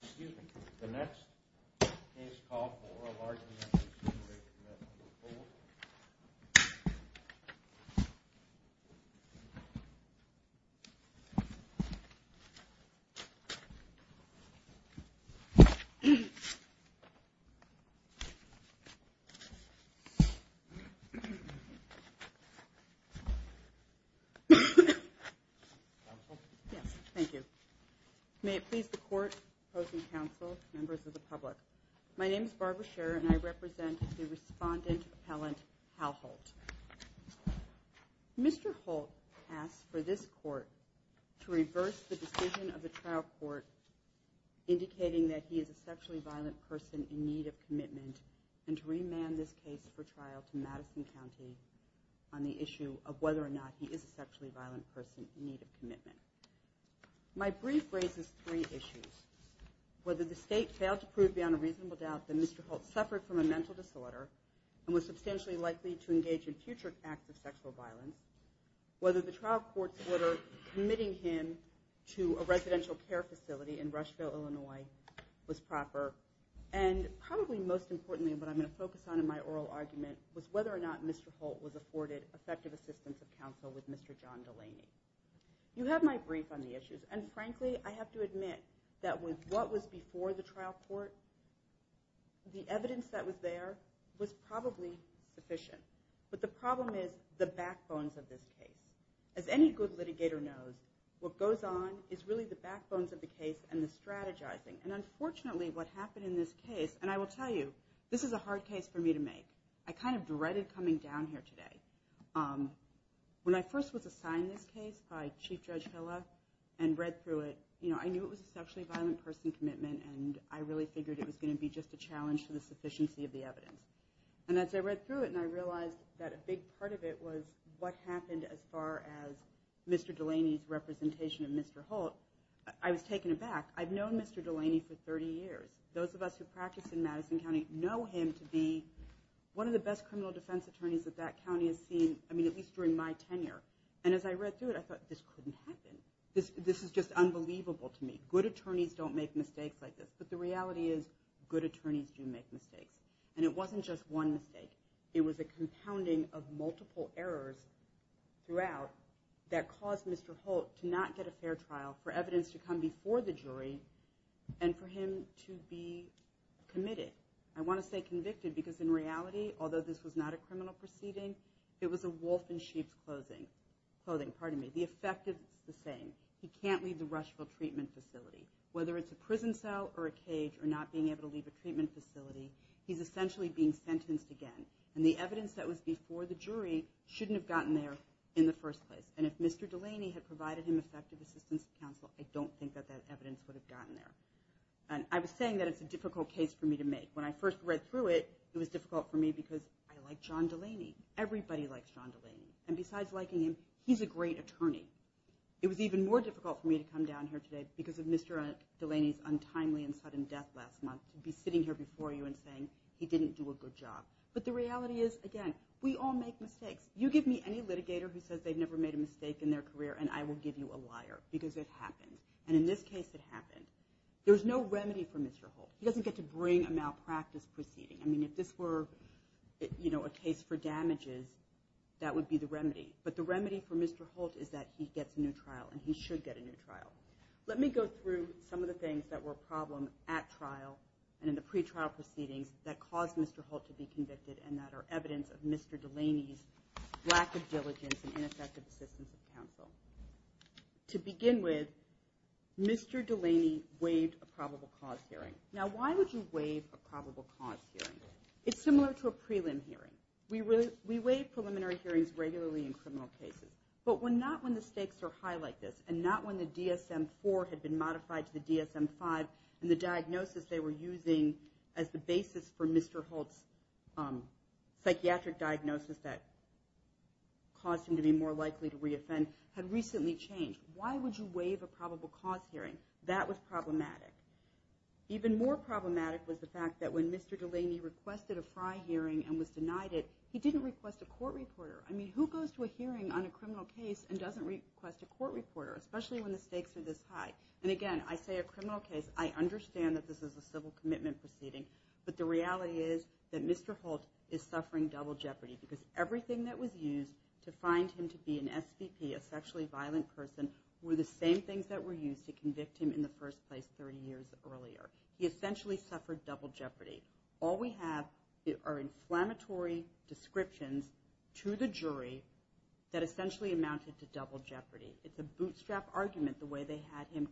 Excuse me. The next is called for a large of the public. My name is Barbara Sherer and I represent the respondent appellant Hal Holt. Mr. Holt asked for this court to reverse the decision of the trial court indicating that he is a sexually violent person in need of commitment and to remand this case for trial to Madison County on the issue of whether or not he is a sexually violent person in need of commitment. My brief raises three issues. Whether the state failed to prove beyond a reasonable doubt that Mr. Holt suffered from a mental disorder and was substantially likely to engage in future acts of sexual violence. Whether the trial court's order committing him to a residential care facility in Rushville, Illinois was proper. And probably most importantly what I'm going to focus on in my oral argument was whether or not Mr. Holt was afforded effective assistance of counsel with Mr. John Delaney. You have my brief on the issues and frankly I have to admit that with what was before the trial court, the evidence that was there was probably sufficient. But the problem is the backbones of this case. As any good litigator knows, what goes on is really the backbones of the case and the strategizing. And unfortunately what happened in this case, and I will tell you, this is a hard case for me to make. I kind of dreaded coming down here today. When I first was assigned this case by Chief Judge Hilla and read through it, I knew it was a sexually violent person commitment and I really figured it was going to be just a challenge to the sufficiency of the evidence. And as I read through it and I realized that a big part of it was what happened as far as Mr. Delaney's representation of Mr. Holt, I was taken aback. I've known Mr. Delaney for 30 years. Those of us who practice in Madison County know him to be one of the best criminal defense attorneys that that county has seen, at least during my tenure. And as I read through it, I thought this couldn't happen. This is just unbelievable to me. Good attorneys don't make mistakes like this, but the reality is good attorneys do make mistakes. And it wasn't just one mistake. It was a compounding of multiple errors throughout that caused Mr. Holt to not get a fair trial for evidence to come before the jury and for him to be committed. I want to say convicted because in reality, although this was not a criminal proceeding, it was a wolf in sheep's clothing. Pardon me. The effect is the same. He can't leave the Rushville treatment facility. Whether it's a prison cell or a cage or not being able to leave a treatment facility, he's essentially being sentenced again. And the evidence that was before the jury shouldn't have gotten there in the first place. And if Mr. Delaney had provided him effective assistance to counsel, I don't think that that evidence would have gotten there. And I was saying that it's a difficult case for me to make. When I first read through it, it was difficult for me because I like John Delaney. Everybody likes John Delaney. And besides liking him, he's a great attorney. It was even more difficult for me to come down here today because of Mr. Delaney's untimely and sudden death last month to be sitting here before you and saying he didn't do a good job. But the reality is, again, we all make mistakes. You give me any litigator who says they've never made a mistake in their career and I will give you a liar because it happened. And in this case, it happened. There's no remedy for Mr. Holt. He doesn't get to bring a malpractice proceeding. I mean, if this were, you know, a case for damages, that would be the remedy. But the remedy for Mr. Holt is that he gets a new trial and he should get a new trial. Let me go through some of the things that were a problem at trial and in the pretrial proceedings that caused Mr. Holt to be convicted and that are evidence of Mr. Delaney's lack of diligence and ineffective assistance of counsel. To begin with, Mr. Delaney waived a probable cause hearing. Now, why would you waive a probable cause hearing? It's similar to a prelim hearing. We waive preliminary hearings regularly in criminal cases. But not when the stakes are high like this and not when the DSM-IV had been modified to the DSM-V and the diagnosis they were using as the basis for Mr. Holt's psychiatric diagnosis that caused him to be more likely to re-offend had recently changed. Why would you waive a probable cause hearing? That was problematic. Even more problematic was the fact that when Mr. Delaney requested a FRI hearing and was denied it, he didn't request a court reporter. I mean, who goes to a hearing on a criminal case and doesn't request a court reporter, especially when the stakes are this high? And again, I say a criminal case. I understand that this is a civil commitment proceeding. But the reality is that Mr. Holt is suffering double jeopardy because everything that was used to find him to be an SVP, a sexually violent person, were the same things that were used to convict him in the state. All we have are inflammatory descriptions to the jury that essentially amounted to double jeopardy. It's a bootstrap argument the way they had him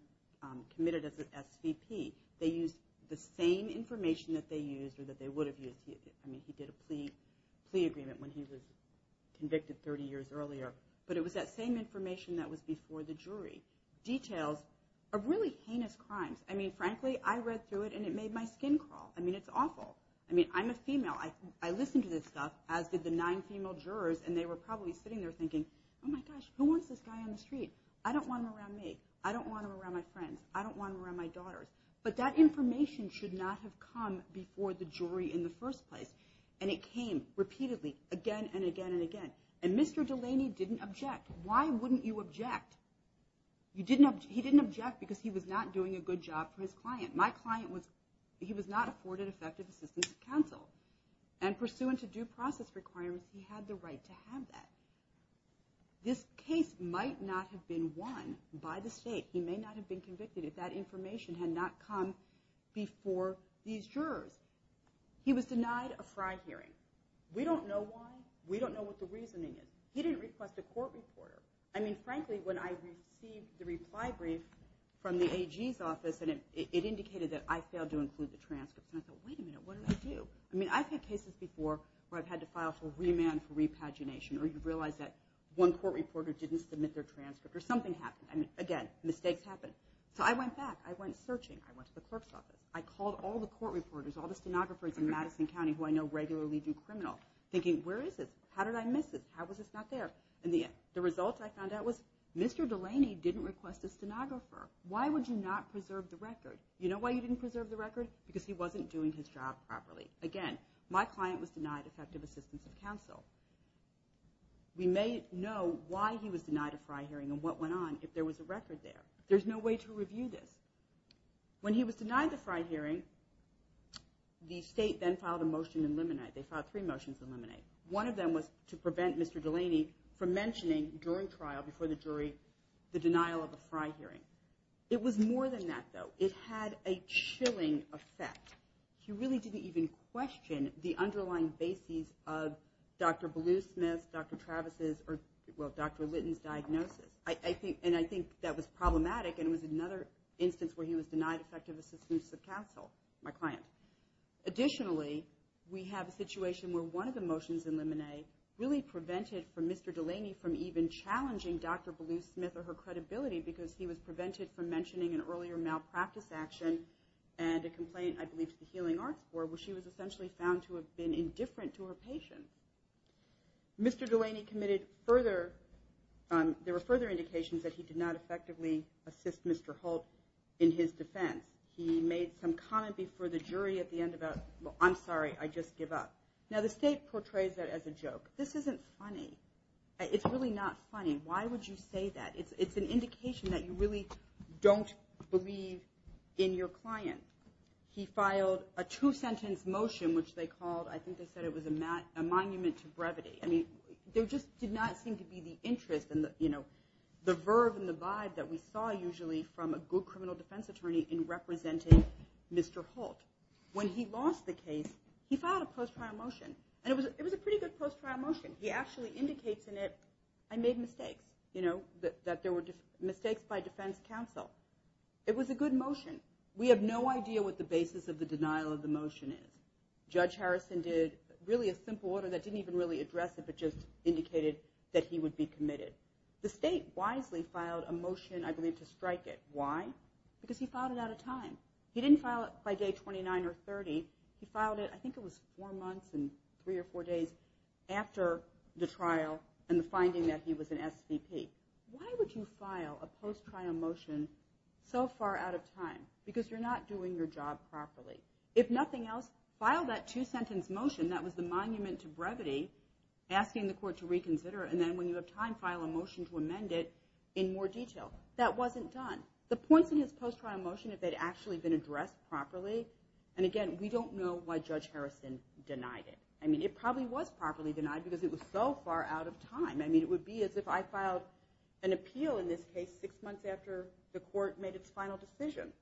committed as an SVP. They used the same information that they used or that they would have used. I mean, he did a plea agreement when he was convicted 30 years earlier. But it was that same information that was before the jury. Details of really heinous crimes. I mean, frankly, I read through it and it made my skin crawl. I mean, it's awful. I mean, I'm a female. I listened to this stuff, as did the nine female jurors, and they were probably sitting there thinking, oh my gosh, who wants this guy on the street? I don't want him around me. I don't want him around my friends. I don't want him around my daughters. But that information should not have come before the jury in the first place. And it came repeatedly again and again and again. And Mr. Delaney didn't object. Why wouldn't you object? He didn't object because he was not doing a good job for his client. My client was, he was not afforded effective assistance from counsel. And pursuant to due process requirements, he had the right to have that. This case might not have been won by the state. He may not have been convicted if that information had not come before these jurors. He was denied a FRI hearing. We don't know why. We don't know what the reasoning is. He didn't request a court reporter. I mean, frankly, when I received the reply brief from the AG's office, and it indicated that there was a transcript, and I thought, wait a minute, what did I do? I mean, I've had cases before where I've had to file for remand for repagination, or you realize that one court reporter didn't submit their transcript, or something happened. I mean, again, mistakes happen. So I went back. I went searching. I went to the clerk's office. I called all the court reporters, all the stenographers in Madison County, who I know regularly do criminal, thinking, where is this? How did I miss this? How was this not there? And the result I found out was Mr. Delaney didn't request a stenographer. Why would you not preserve the record? You know what? I don't know why you didn't preserve the record, because he wasn't doing his job properly. Again, my client was denied effective assistance of counsel. We may know why he was denied a FRI hearing and what went on if there was a record there. There's no way to review this. When he was denied the FRI hearing, the state then filed a motion to eliminate. They filed three motions to eliminate. One of them was to prevent Mr. Delaney from mentioning during trial, before the jury, the denial of a FRI hearing. It was more than that, though. It had a chilling effect. He really didn't even question the underlying bases of Dr. Bluesmith's, Dr. Travis's, or, well, Dr. Litton's diagnosis. And I think that was problematic, and it was another instance where he was denied effective assistance of counsel, my client. Additionally, we have a situation where one of the motions eliminated really prevented Mr. Delaney from even challenging Dr. Bluesmith or her credibility, because he was prevented from mentioning an earlier malpractice action and a complaint, I believe, to the Healing Arts Board, where she was essentially found to have been indifferent to her patient. Mr. Delaney committed further, there were further indications that he did not effectively assist Mr. Holt in his defense. He made some comment before the jury at the end about, well, I'm sorry, I just give up. Now, the state portrays that as a joke. This isn't funny. It's really not funny. Why would you say that? It's an indication that you really don't believe in your client. He filed a two-sentence motion, which they called, I think they said it was a monument to brevity. I mean, there just did not seem to be the interest and the, you know, the verve and the vibe that we saw usually from a good criminal defense attorney in representing Mr. Holt. When he lost the case, he filed a post-trial motion, and it was a pretty good post-trial motion. He actually indicates in it, I made mistakes, you know, that there were mistakes by defense attorney, defense counsel. It was a good motion. We have no idea what the basis of the denial of the motion is. Judge Harrison did really a simple order that didn't even really address it, but just indicated that he would be committed. The state wisely filed a motion, I believe, to strike it. Why? Because he filed it at a time. He didn't file it by day 29 or 30. He filed it, I think it was four months and three or four days after the trial and the finding that he was an SVP. Why would you file a post-trial motion to strike a motion that you thought was a good motion so far out of time? Because you're not doing your job properly. If nothing else, file that two-sentence motion that was the monument to brevity, asking the court to reconsider, and then when you have time, file a motion to amend it in more detail. That wasn't done. The points in his post-trial motion, if they'd actually been addressed properly, and again, we don't know why Judge Harrison denied it. I mean, it probably was properly denied because it was so far out of time. I mean, it would be as if I filed an amendment, and then the court made its final decision.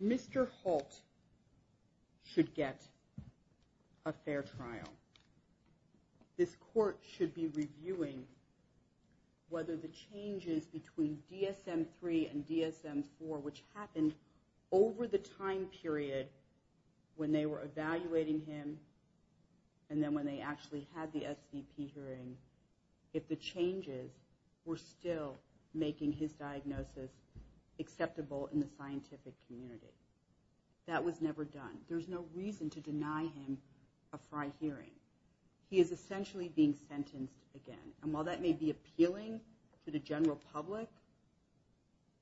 Mr. Holt should get a fair trial. This court should be reviewing whether the changes between DSM-3 and DSM-4, which happened over the time period when they were evaluating him, and then when they actually had the SVP hearing, if the changes were still making his diagnosis acceptable in the scientific community. That was never done. There's no reason to deny him a FRI hearing. He is essentially being sentenced again, and while that may be appealing to the general public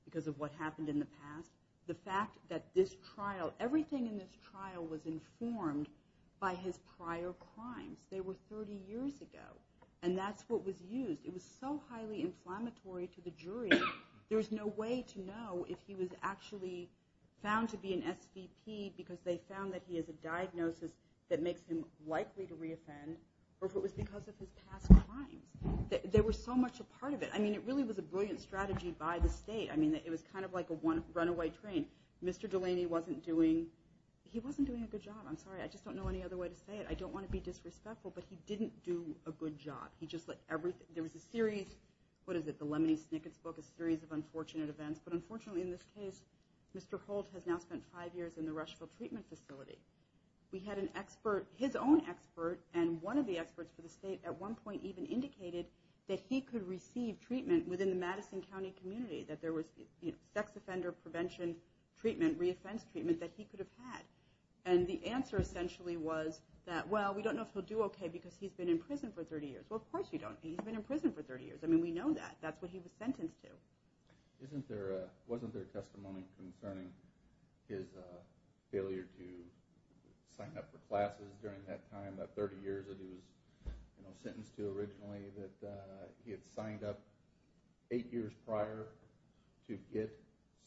because of what happened in the past, the fact that this trial, everything in this trial was informed by his prior crimes. They were 30 years ago, and that's what was used. It was so highly inflammatory to the jury. There's no way to know if he was actually found to be an SVP because they found that he has a diagnosis that makes him likely to re-offend, or if it was because of his past crimes. There was so much a part of it. I mean, it really was a brilliant strategy by the state. I mean, it was kind of like a runaway train. Mr. Delaney wasn't doing, he wasn't doing a good job. I just don't know any other way to say it. I don't want to be disrespectful, but he didn't do a good job. There was a series, what is it, the Lemony Snicket's book, a series of unfortunate events, but unfortunately in this case, Mr. Holt has now spent five years in the Rushville Treatment Facility. We had an expert, his own expert, and one of the experts for the state at one point even indicated that he could receive treatment within the Madison County community, that there was sex offender prevention treatment, re-offense treatment that he could have had, and the answer essentially was that, well, we don't know if he'll do okay because he's been in prison for 30 years. Well, of course you don't. He's been in prison for 30 years. I mean, we know that. That's what he was sentenced to. Isn't there a, wasn't there a testimony concerning his failure to sign up for classes during that time, that 30 years that he was, you know, sentenced to originally, that he had signed up eight years prior to get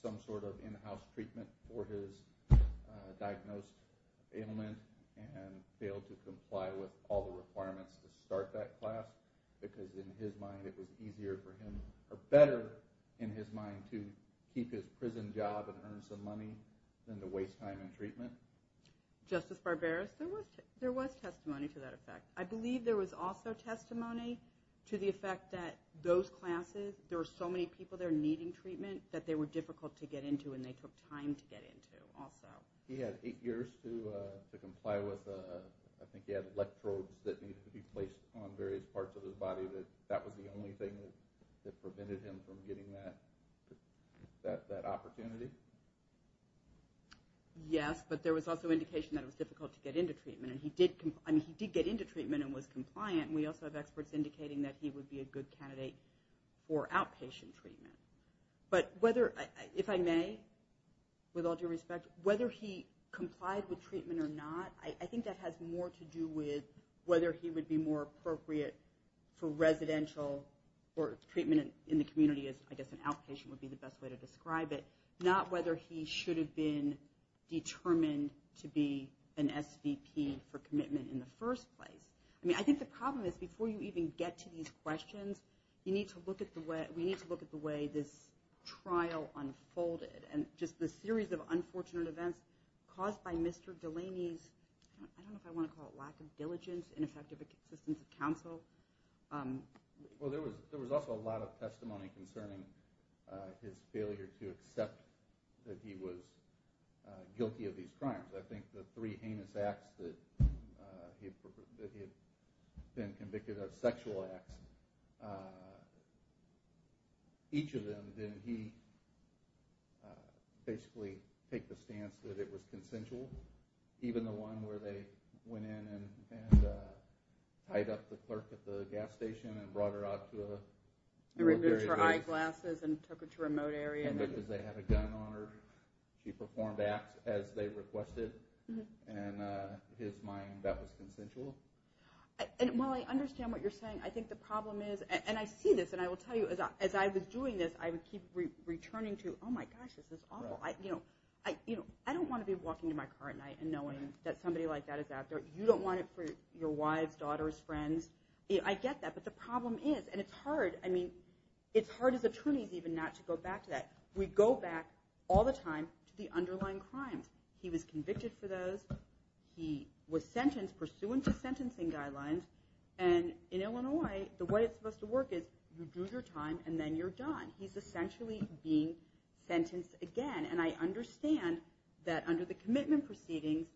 some sort of in-house treatment for his, you know, diagnosed ailment and failed to comply with all the requirements to start that class because in his mind it was easier for him, or better in his mind to keep his prison job and earn some money than to waste time in treatment? Justice Barberis, there was testimony to that effect. I believe there was also testimony to the effect that those classes, there were so many people there needing treatment that they were difficult to get into and they took time to get into also. He had eight years to comply with, I think he had electrodes that needed to be placed on various parts of his body. That was the only thing that prevented him from getting that opportunity? Yes, but there was also indication that it was difficult to get into treatment. And he did get into treatment and was compliant. We also have experts indicating that he would be a good candidate for outpatient treatment. But whether, if I may, with all due respect, whether he complied with treatment or not, I think that has more to do with whether he would be more appropriate for residential or treatment in the community as I guess an outpatient would be the best way to describe it. Not whether he should have been determined to be an SVP for commitment in the first place. I mean, I think the problem is before you even get to these questions, you need to look at the way, we need to look at the way this trial unfolded and just the series of unfortunate events caused by Mr. Delaney's, I don't know if I want to call it lack of diligence, ineffective assistance of counsel. Well, there was also a lot of testimony concerning his failure to accept that he was guilty of these crimes. I think the three heinous acts that he had been convicted of, sexual acts, each of them, I don't know, did he basically take the stance that it was consensual? Even the one where they went in and tied up the clerk at the gas station and brought her out to a... And removed her eyeglasses and took her to a remote area. And because they had a gun on her, she performed acts as they requested and in his mind that was consensual. And while I understand what you're saying, I think the problem is, and I see this and I will tell you, as I was doing this, I keep returning to, oh my gosh, this is awful. I don't want to be walking to my car at night and knowing that somebody like that is out there. You don't want it for your wives, daughters, friends. I get that, but the problem is, and it's hard as attorneys even not to go back to that. We go back all the time to the underlying crimes. He was convicted for those, he was sentenced pursuant to sentencing guidelines, and in Illinois, the way it's supposed to work is you do your time and then you're done. He's essentially being sentenced again. And I understand that under the commitment proceedings,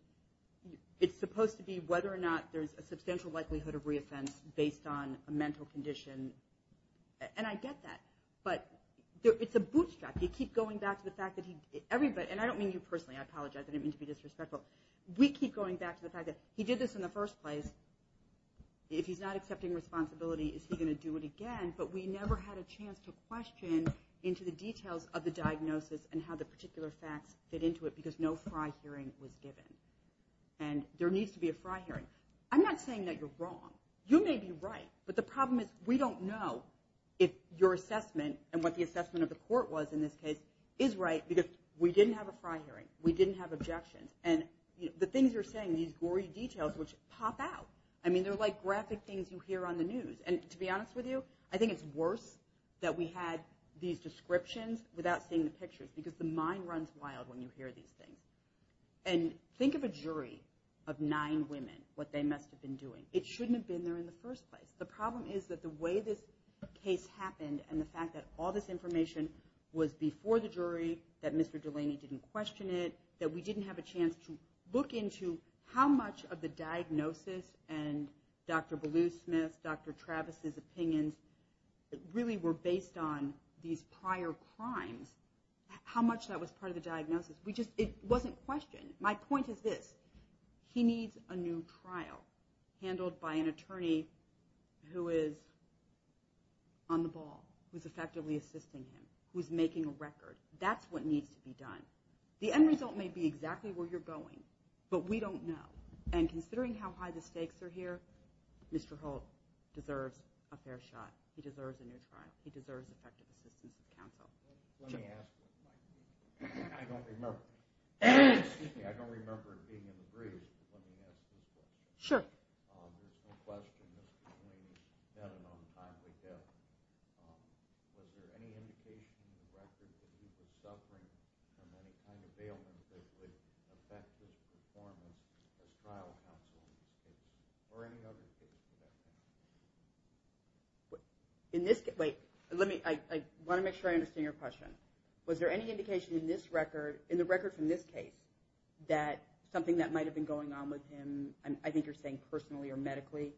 it's supposed to be whether or not there's a substantial likelihood of reoffense based on a mental condition. And I get that, but it's a bootstrap. And I don't mean you personally, I apologize, I didn't mean to be disrespectful. We keep going back to the fact that he did this in the first place. If he's not accepting responsibility, is he going to do it again? But we never had a chance to question into the details of the diagnosis and how the particular facts fit into it, and there needs to be a fry hearing. I'm not saying that you're wrong. You may be right, but the problem is we don't know if your assessment and what the assessment of the court was in this case is right, because we didn't have a fry hearing. We didn't have objections. And the things you're saying, these gory details, which pop out. I mean, they're like graphic things you hear on the news. And to be honest with you, I think it's worse that we had these descriptions without seeing the pictures, because the mind runs wild when you hear these things. And think of a jury of nine women, what they must have been doing. It shouldn't have been there in the first place. The problem is that the way this case happened and the fact that all this information was before the jury, that Mr. Delaney didn't question it, that we didn't have a chance to look into how much of the diagnosis and Dr. Ballew-Smith's, Dr. Travis's opinions really were based on these prior crimes, how much that was part of the diagnosis. It wasn't questioned. My point is this, he needs a new trial handled by an attorney who is on the ball, who's effectively assisting him, who's making a record. That's what needs to be done. The end result may be exactly where you're going, but we don't know. And considering how high the stakes are here, Mr. Holt deserves a fair shot. He deserves a new trial. Let me ask you, I don't remember being in the breeze, but let me ask you this. Sure. There's no question Mr. Delaney's done an untimely death. Was there any indication in the record that he was suffering from any kind of ailment that would affect his performance as trial counsel in this case, or any other case for that matter? I want to make sure I understand your question. Was there any indication in the record from this case that something that might have been going on with him, I think you're saying personally or medically?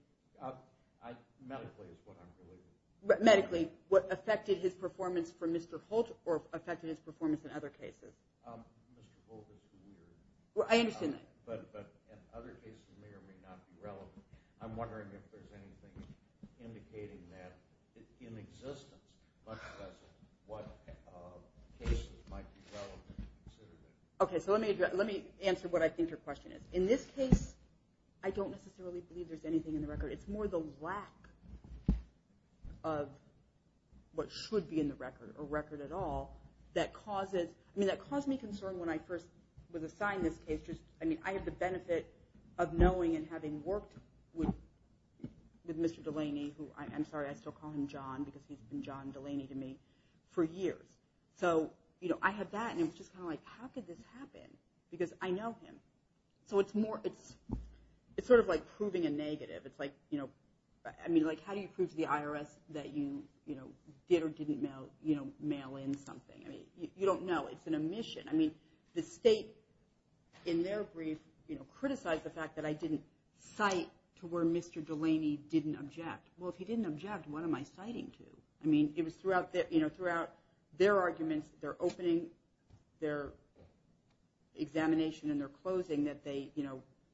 Medically, what affected his performance for Mr. Holt or affected his performance in other cases? Mr. Holt is the leader. But in other cases it may or may not be relevant. I'm wondering if there's anything indicating that in existence, much less what cases might be relevant. Okay, so let me answer what I think your question is. In this case, I don't necessarily believe there's anything in the record. It's more the lack of what should be in the record, or record at all, that caused me concern when I first was assigned this case. I have the benefit of knowing and having worked with Mr. Delaney. I'm sorry, I still call him John, because he's been John Delaney to me for years. So I had that, and it was just kind of like, how could this happen? Because I know him. It's sort of like proving a negative. It's like, how do you prove to the IRS that you did or didn't mail in something? You don't know. It's an omission. The state, in their brief, criticized the fact that I didn't cite to where Mr. Delaney didn't object. Well, if he didn't object, what am I citing to? I mean, it was throughout their arguments, their opening, their examination, and their closing that they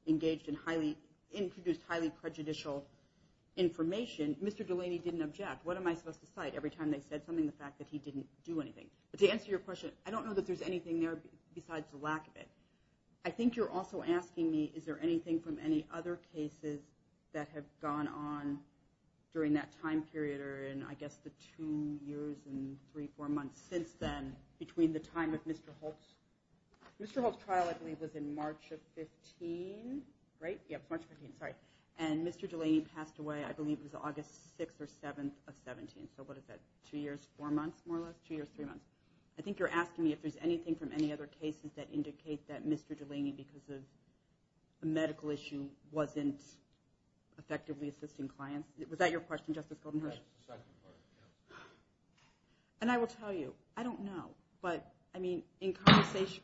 engaged in highly, introduced highly prejudicial information. Mr. Delaney didn't object. What am I supposed to cite every time they said something, the fact that he didn't do anything? But to answer your question, I don't know that there's anything there besides the lack of it. I think you're also asking me, is there anything from any other cases that have gone on during that time period or in, I guess, the two years and three, four months since then between the time of Mr. Holtz? Mr. Holtz's trial, I believe, was in March of 15, right? And Mr. Delaney passed away, I believe it was August 6 or 7 of 17. So what is that, two years, four months more or less, two years, three months? I think you're asking me if there's anything from any other cases that indicate that Mr. Delaney, because of a medical issue, wasn't effectively assisting clients. Was that your question, Justice Goldenberg? And I will tell you, I don't know. But, I mean, in conversation...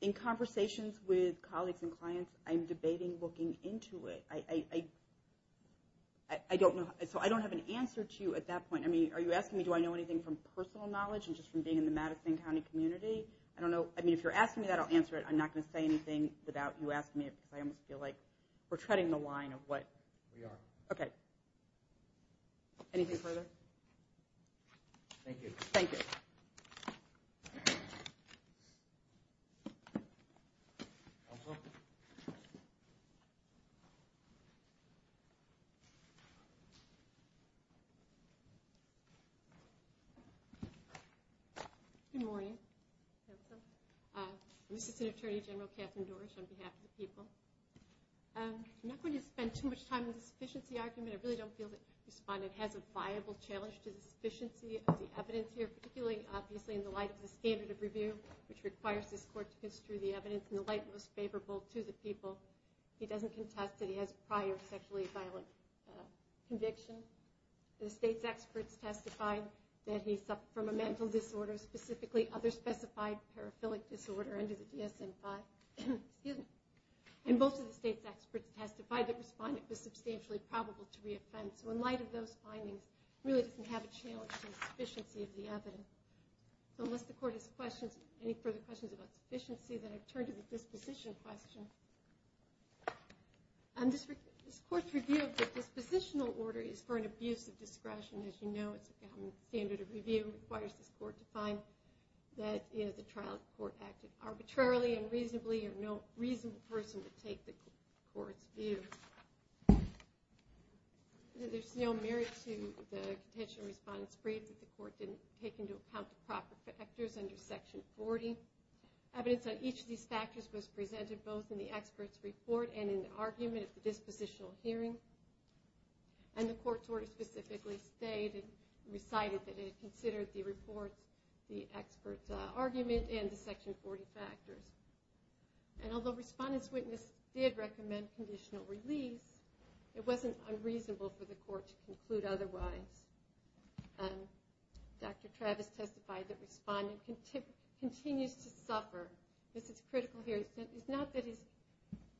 In conversations with colleagues and clients, I'm debating looking into it. So I don't have an answer to you at that point. I mean, are you asking me, do I know anything from personal knowledge and just from being in the Madison County community? I don't know. I mean, if you're asking me that, I'll answer it. I'm not going to say anything without you asking me because I almost feel like we're treading the line of what... Anything further? Thank you. Good morning. This is Attorney General Katherine Dorsch on behalf of the people. I'm not going to spend too much time on the sufficiency argument. I really don't feel that the respondent has a viable challenge to the sufficiency of the evidence here, particularly, obviously, in the light of the standard of review, which requires this court to construe the evidence in the light most favorable to the people. He doesn't contest that he has prior sexually violent conviction. The state's experts testified that he suffered from a mental disorder, specifically other specified paraphilic disorder under the DSM-5. And both of the state's experts testified that the respondent was substantially probable to reoffend. So in light of those findings, he really doesn't have a challenge to the sufficiency of the evidence. So unless the court has any further questions about sufficiency, then I turn to the disposition question. This court's review of the dispositional order is for an abuse of discretion. As you know, it's a standard of review. It requires this court to find that the trial court acted arbitrarily and reasonably, or no reasonable person would take the court's view. There's no merit to the contention the respondent's briefed that the court didn't take into account the proper factors under Section 40. Evidence on each of these factors was presented both in the expert's report and in the argument at the dispositional hearing. And the court's order specifically stated and recited that it considered the report, the expert's argument, and the Section 40 factors. And although Respondent's Witness did recommend conditional release, it wasn't unreasonable for the court to conclude otherwise. Dr. Travis testified that Respondent continues to suffer. This is critical here. It's not that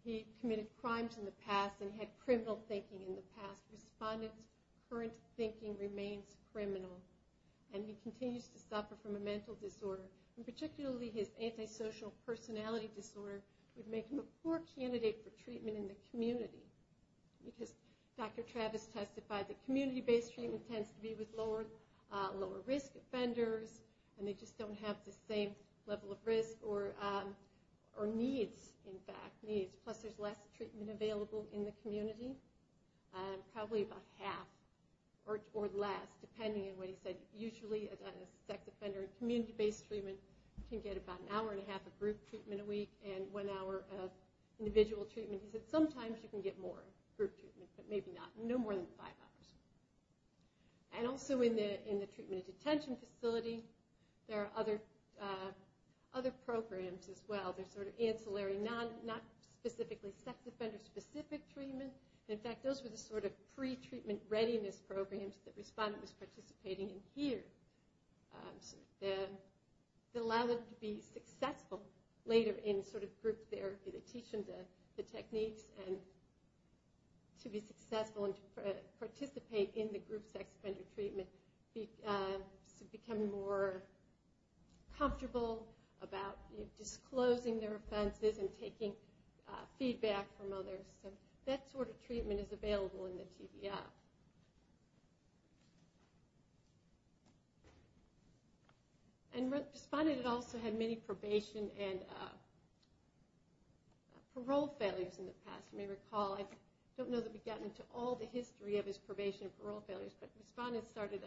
he committed crimes in the past and had criminal thinking in the past. Respondent's current thinking remains criminal. And he continues to suffer from a mental disorder. And particularly his antisocial personality disorder would make him a poor candidate for treatment in the community. Because Dr. Travis testified that community-based treatment tends to be with lower-risk offenders, and they just don't have the same level of risk or needs, in fact. Plus there's less treatment available in the community, probably about half or less, depending on what he said. Usually a sex offender in community-based treatment can get about an hour and a half of group treatment a week and one hour of individual treatment. He said sometimes you can get more group treatment, but maybe not, no more than five hours. And also in the treatment-at-detention facility, there are other programs as well. They're sort of ancillary, not specifically sex offender-specific treatment. In fact, those were the sort of pre-treatment readiness programs that Respondent was participating in here. They allowed him to be successful later in sort of group therapy. They teach him the techniques. And to be successful and to participate in the group sex offender treatment, to become more comfortable about disclosing their offenses and taking feedback from others. So that sort of treatment is available in the TBI. And Respondent also had many probation and parole failures in the past. You may recall, I don't know that we've gotten into all the history of his probation and parole failures, but Respondent started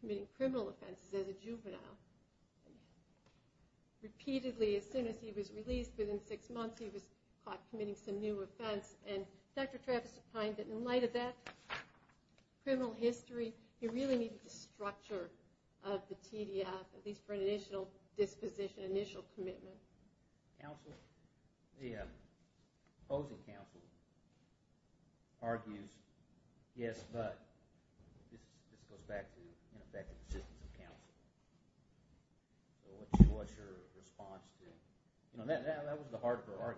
committing criminal offenses as a juvenile. Repeatedly, as soon as he was released, within six months he was caught committing some new offense. And Dr. Travis opined that in light of that criminal history, he really needed the structure of the TDF, at least for an initial disposition, initial commitment. Counsel? The opposing counsel argues, yes, but. This goes back to the assistance of counsel. What's your response to that? That was the hard part.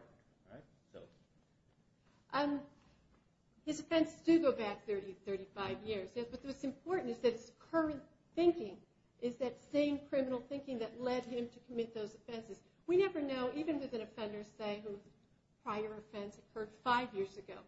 His offenses do go back 30 to 35 years. But what's important is that his current thinking is that same criminal thinking that led him to commit those offenses. We never know, even with an offender, say, whose prior offense occurred five years ago.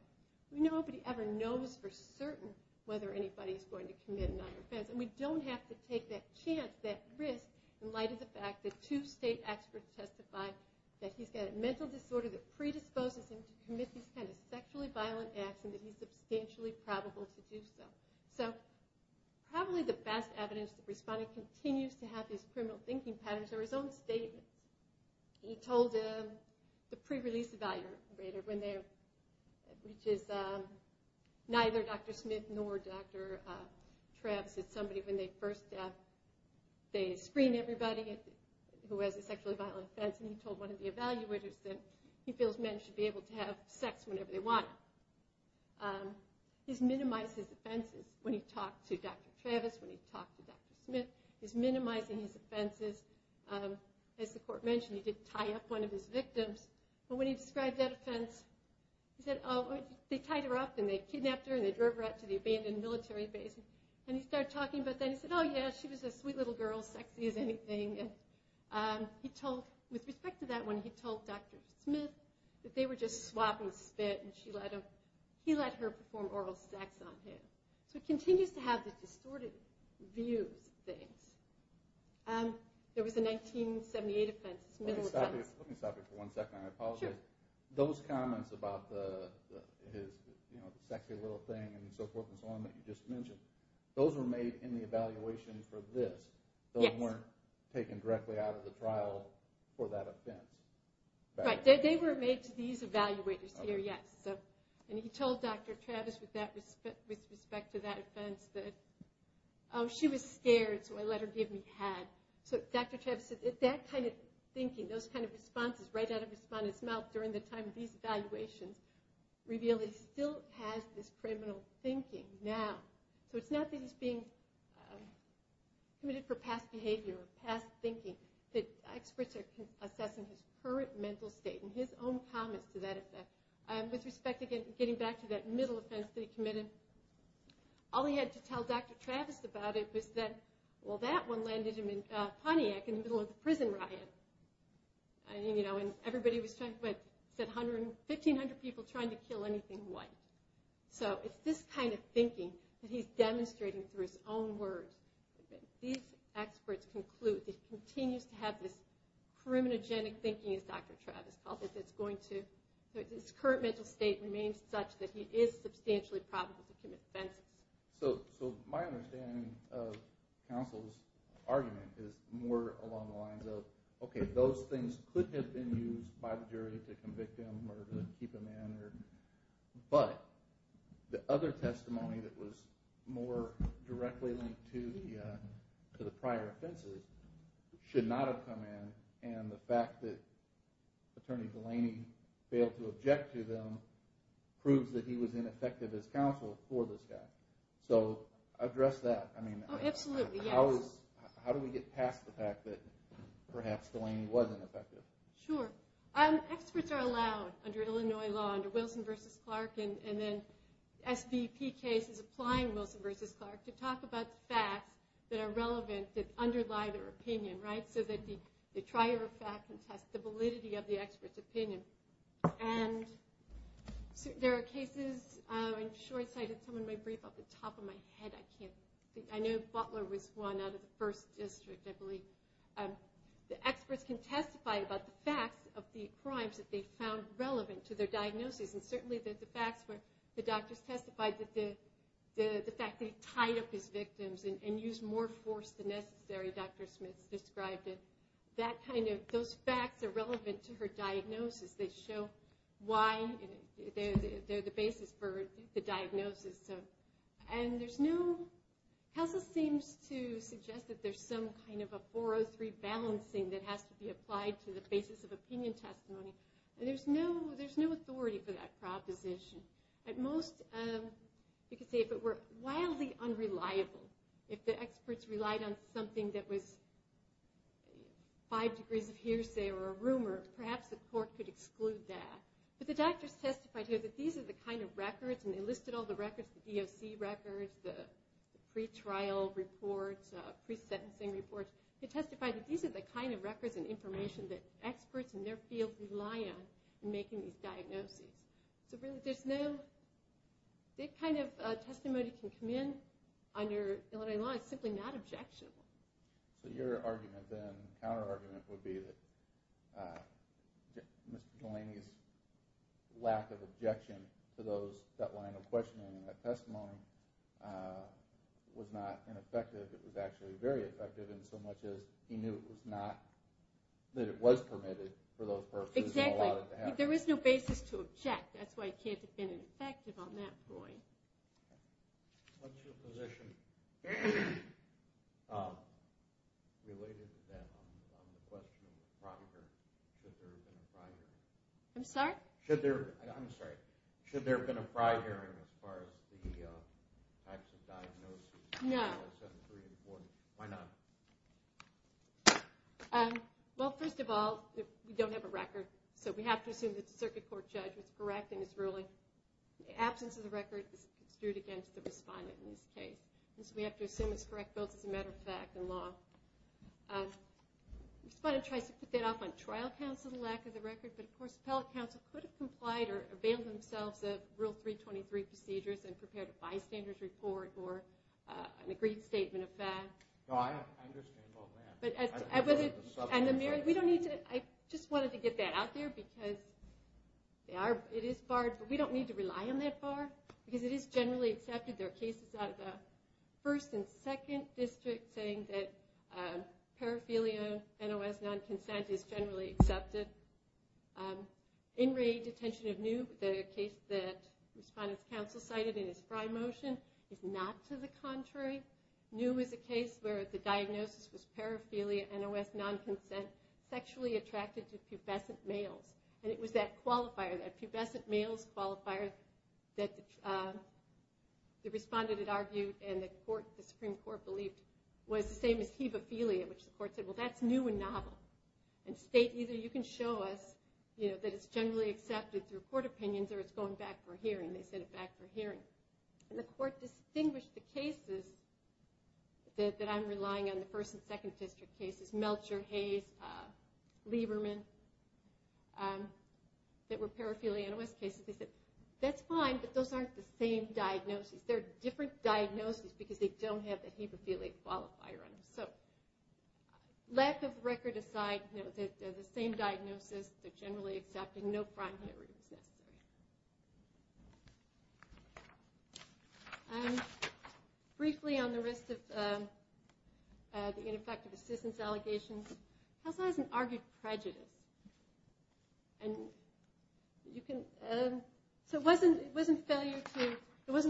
Nobody ever knows for certain whether anybody is going to commit another offense. And we don't have to take that chance, that risk, in light of the fact that two state experts testified that he's got a mental disorder that predisposes him to commit these kinds of sexually violent acts and that he's substantially probable to do so. Probably the best evidence that Respondent continues to have these criminal thinking patterns are his own statements. He told the pre-release evaluator, which is neither Dr. Smith nor Dr. Travis. It's somebody when they first have, they screen everybody who has a sexually violent offense, and he told one of the evaluators that he feels men should be able to have sex whenever they want. He's minimized his offenses when he talked to Dr. Travis, when he talked to Dr. Smith. He's minimizing his offenses. As the court mentioned, he did tie up one of his victims, but when he described that offense, he said, oh, they tied her up, and they kidnapped her, and they drove her out to the abandoned military base. And he started talking about that, and he said, oh, yeah, she was a sweet little girl, sexy as anything. With respect to that one, he told Dr. Smith that they were just swapping spit, and he let her perform oral sex on him. So he continues to have the distorted views of things. There was a 1978 offense. Those comments about the sexy little thing and so forth and so on that you just mentioned, those were made in the evaluation for this. Those weren't taken directly out of the trial for that offense. Right, they were made to these evaluators here, yes. And he told Dr. Travis with respect to that offense that, oh, she was scared, so I let her give me a hug. So Dr. Travis said that kind of thinking, those kind of responses, right out of the respondent's mouth during the time of these evaluations revealed that he still has this criminal thinking now. So it's not that he's being committed for past behavior or past thinking, that experts are assessing his current mental state and his own comments to that offense. With respect, again, getting back to that middle offense that he committed, all he had to tell Dr. Travis about it was that, well, that one landed him in Pontiac in the middle of the prison riot. And everybody was trying, said 1,500 people trying to kill anything white. So it's this kind of thinking that he's demonstrating through his own words that these experts conclude that he continues to have this criminogenic thinking, as Dr. Travis called it, that this current mental state remains such that he is substantially probable to commit offenses. So my understanding of counsel's argument is more along the lines of, okay, those things could have been used by the jury to convict him or to keep him in, but the other testimony that was more directly linked to the prior offenses should not have come in. And the fact that Attorney Delaney failed to object to them proves that he was ineffective as counsel for this guy. So address that. How do we get past the fact that perhaps Delaney was ineffective? Sure. Experts are allowed under Illinois law, under Wilson v. Clark, and then the SBP case is applying Wilson v. Clark to talk about facts that are relevant, that underlie their opinion, right? So that they try your facts and test the validity of the expert's opinion. And there are cases, I'm sure I cited some of my briefs off the top of my head. I know Butler was one out of the first district, I believe. The experts can testify about the facts of the crimes that they found relevant to their diagnosis, and certainly the facts where the doctors testified that the fact that he tied up his victims and used more force than necessary, Dr. Smith described it, that kind of, those facts are relevant to her diagnosis. They show why, they're the basis for the diagnosis. And there's no, CASA seems to suggest that there's some kind of a 403 balancing that has to be applied to the basis of opinion testimony. And there's no authority for that proposition. At most, you could say if it were wildly unreliable, if the experts relied on something that was five degrees of hearsay or a rumor, perhaps the court could exclude that. But the doctors testified here that these are the kind of records, and they listed all the records, the EOC records, the pretrial reports, pre-sentencing reports. They testified that these are the kind of records and information that experts in their field rely on in making these diagnoses. So really there's no, that kind of testimony can come in under Illinois law, it's simply not objectionable. So your argument then, counter-argument would be that Mr. Delaney's lack of objection to that line of questioning and that testimony was not ineffective, it was actually very effective in so much as he knew it was not, that it was permitted for those purposes and allowed it to happen. There is no basis to object, that's why it can't have been effective on that point. What's your position related to that on the question of the proctor, should there have been a prior hearing? I'm sorry? Should there have been a prior hearing as far as the types of diagnoses? No. Well, first of all, we don't have a record, so we have to assume that the circuit court judge was correct in his ruling. The absence of the record is construed against the respondent in this case. So we have to assume it's correct both as a matter of fact and law. The respondent tries to put that off on trial counsel for the lack of the record, but of course appellate counsel could have complied or availed themselves of Rule 323 procedures and prepared a bystander's report or an agreed statement of fact. I just wanted to get that out there because it is barred, but we don't need to rely on that bar, because it is generally accepted. There are cases out of the 1st and 2nd District saying that paraphilia NOS non-consent is generally accepted. In Rae, detention of New, the case that respondent's counsel cited in his Frye motion, is not to the contrary. New is a case where the diagnosis was paraphilia qualifier, a pubescent males qualifier that the respondent argued and the Supreme Court believed was the same as hebophilia, which the court said, well that's new and novel, and state either you can show us that it's generally accepted through court opinions or it's going back for hearing. They sent it back for hearing. The court distinguished the cases that I'm relying on, the 1st and 2nd District cases, Melcher, Hayes, Lieberman, that were paraphilia NOS cases. They said, that's fine, but those aren't the same diagnoses. They're different diagnoses because they don't have the hebophilia qualifier on them. Lack of record aside, they're the same diagnosis, they're generally accepted, no prime hearing is necessary. Briefly on the risk of ineffective assistance allegations, counsel hasn't argued prejudice. So it wasn't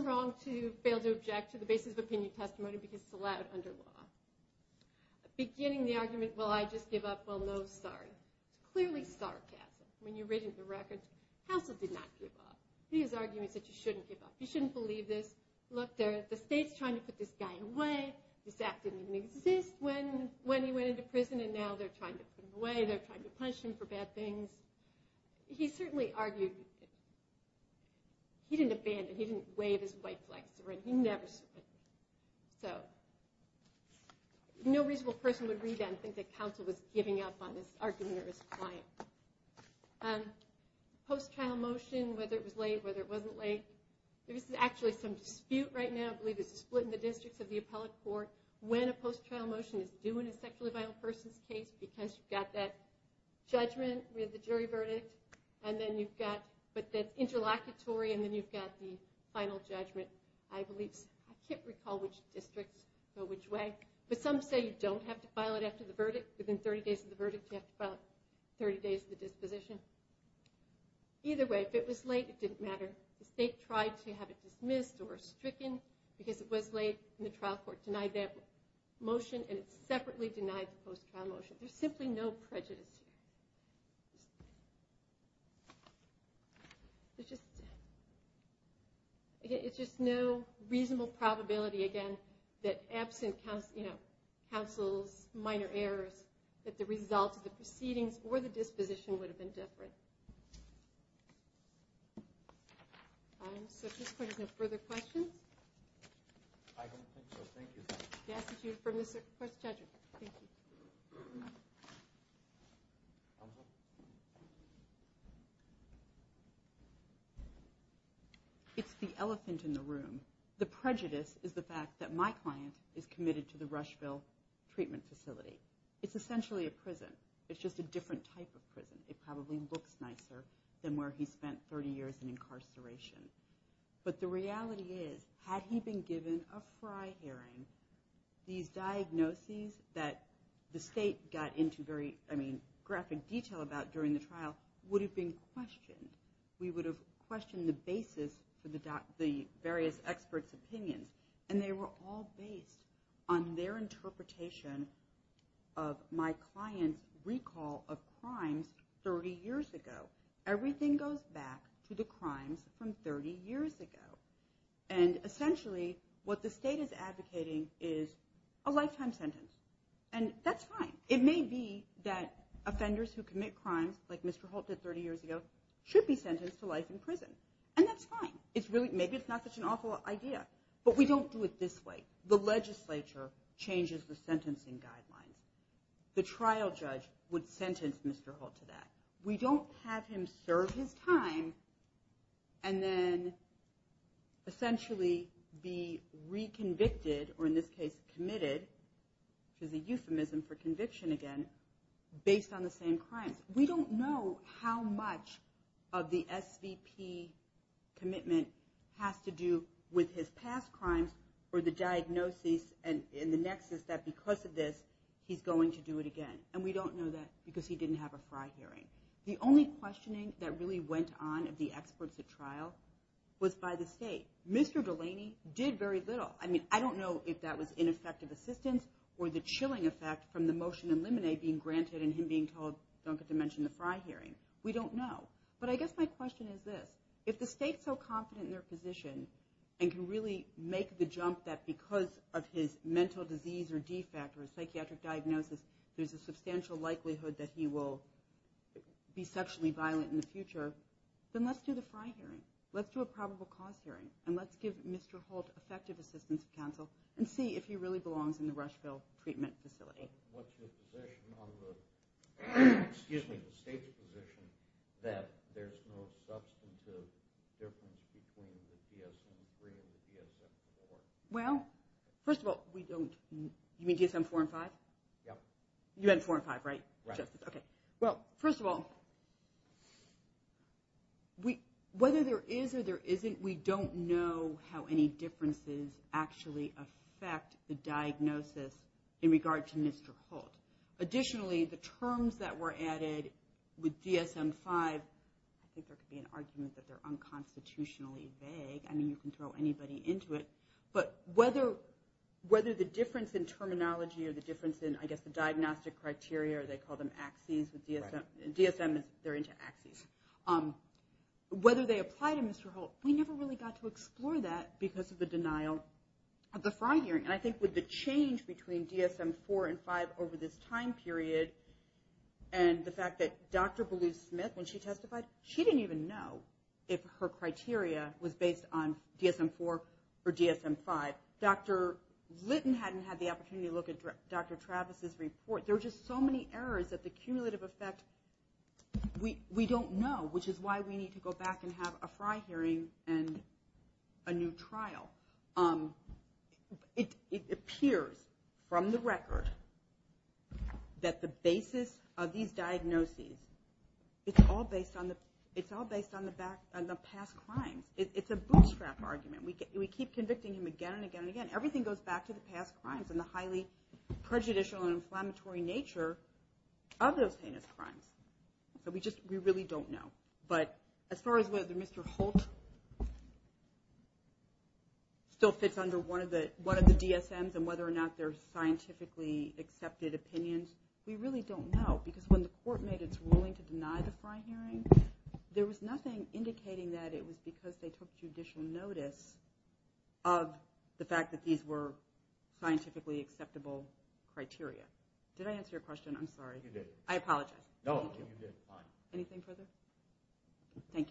wrong to fail to object to the basis of opinion testimony because it's allowed under law. Beginning the argument, well I just give up, well no, sorry. Clearly sarcasm. When you read the record, counsel did not give up. He was arguing that you shouldn't give up. You shouldn't believe this. Look, the state's trying to put this guy away. This act didn't even exist when he went into prison and now they're trying to put him away, they're trying to punish him for bad things. He certainly argued he didn't abandon, he didn't wave his white flag. He never was giving up on his argument or his client. Post-trial motion, whether it was late, whether it wasn't late, there is actually some dispute right now, I believe it's a split in the districts of the appellate court, when a post-trial motion is due in a sexually violent person's case because you've got that judgment with the jury verdict, but that's interlocutory and then you've got the final judgment. I can't recall which districts go which way, but some say you don't have to file it after the verdict. Within 30 days of the verdict, you have to file it 30 days after the disposition. Either way, if it was late, it didn't matter. The state tried to have it dismissed or stricken because it was late and the trial court denied that motion and it separately denied the post-trial motion. There's simply no prejudice here. It's just no reasonable probability, again, that absent counsel's minor errors, that the result of the proceedings or the disposition would have been different. So if this court has no further questions. I don't think so. Thank you. It's the elephant in the room. The prejudice is the fact that my client is committed to the Rushville treatment facility. It's essentially a prison. It's just a different type of prison. It probably looks nicer than where he spent 30 years in incarceration. But the reality is, had he been given a fry hearing, these diagnoses that the state got into very graphic detail about during the trial would have been questioned. We would have questioned the basis for the various experts' opinions. And they were all based on their interpretation of my client's recall of crimes 30 years ago. Everything goes back to the crimes from 30 years ago. And essentially what the state is advocating is a lifetime sentence. And that's fine. It may be that offenders who commit crimes like Mr. Holt did 30 years ago should be sentenced to life in prison. And that's fine. Maybe it's not such an awful idea. But we don't do it this way. The legislature changes the sentencing guidelines. The trial judge would sentence Mr. Holt to that. We don't have him serve his time and then essentially be reconvicted, or in this case committed, which is a euphemism for conviction again, based on the same crimes. We don't know how much of the SVP commitment has to do with his past crimes or the case that he's going to do it again. And we don't know that because he didn't have a F.R.I. hearing. The only questioning that really went on of the experts at trial was by the state. Mr. Delaney did very little. I mean, I don't know if that was ineffective assistance or the chilling effect from the motion in Lemonade being granted and him being told, don't get to mention the F.R.I. hearing. We don't know. But I guess my question is this. If the state's so confident in their position and can really make the jump that because of his mental disease or defect or a psychiatric diagnosis, there's a substantial likelihood that he will be sexually violent in the future, then let's do the F.R.I. hearing. Let's do a probable cause hearing. And let's give Mr. Holt effective assistance of counsel and see if he really belongs in the Rushville treatment facility. What's your position on the, excuse me, the state's position that there's no substantive difference between the DSM-3 and the DSM-4? Well, first of all, we don't, you mean DSM-4 and 5? Yep. You had 4 and 5, right? Right. Okay. Well, first of all, whether there is or there isn't, we don't know how any differences actually affect the diagnosis in regard to Mr. Holt. Additionally, the terms that were added with DSM-5, I think there could be an argument that they're unconstitutionally vague. I mean, you can throw anybody into it. But whether the difference in terminology or the difference in, I guess, the diagnostic criteria, or they call them axes, with DSM, they're into axes. Whether they apply to Mr. Holt, we never really got to explore that because of the denial of the fraud hearing. And I think with the change between DSM-4 and 5 over this time period and the fact that Dr. Beluse-Smith, when she testified, she didn't even know if her criteria was based on DSM-4 or DSM-5. Dr. Litton hadn't had the opportunity to look at Dr. Travis's report. There were just so many errors that the cumulative effect, we don't know, which is why we need to go back and have a fraud hearing and a new trial. It appears from the record that the basis of these diagnoses, it's all based on the past crimes. It's a bootstrap argument. We keep convicting him again and again and again. Everything goes back to the past crimes and the highly prejudicial and inflammatory nature of those heinous crimes. We really don't know. But as far as whether Mr. Holt still fits under one of the DSMs and whether or not they're scientifically accepted opinions, we really don't know. Because when the court made its ruling to deny the fraud hearing, there was nothing indicating that it was because they took judicial notice of the fact that these were scientifically acceptable criteria. Did I answer your question? I'm sorry. I apologize. Anything further? Thank you.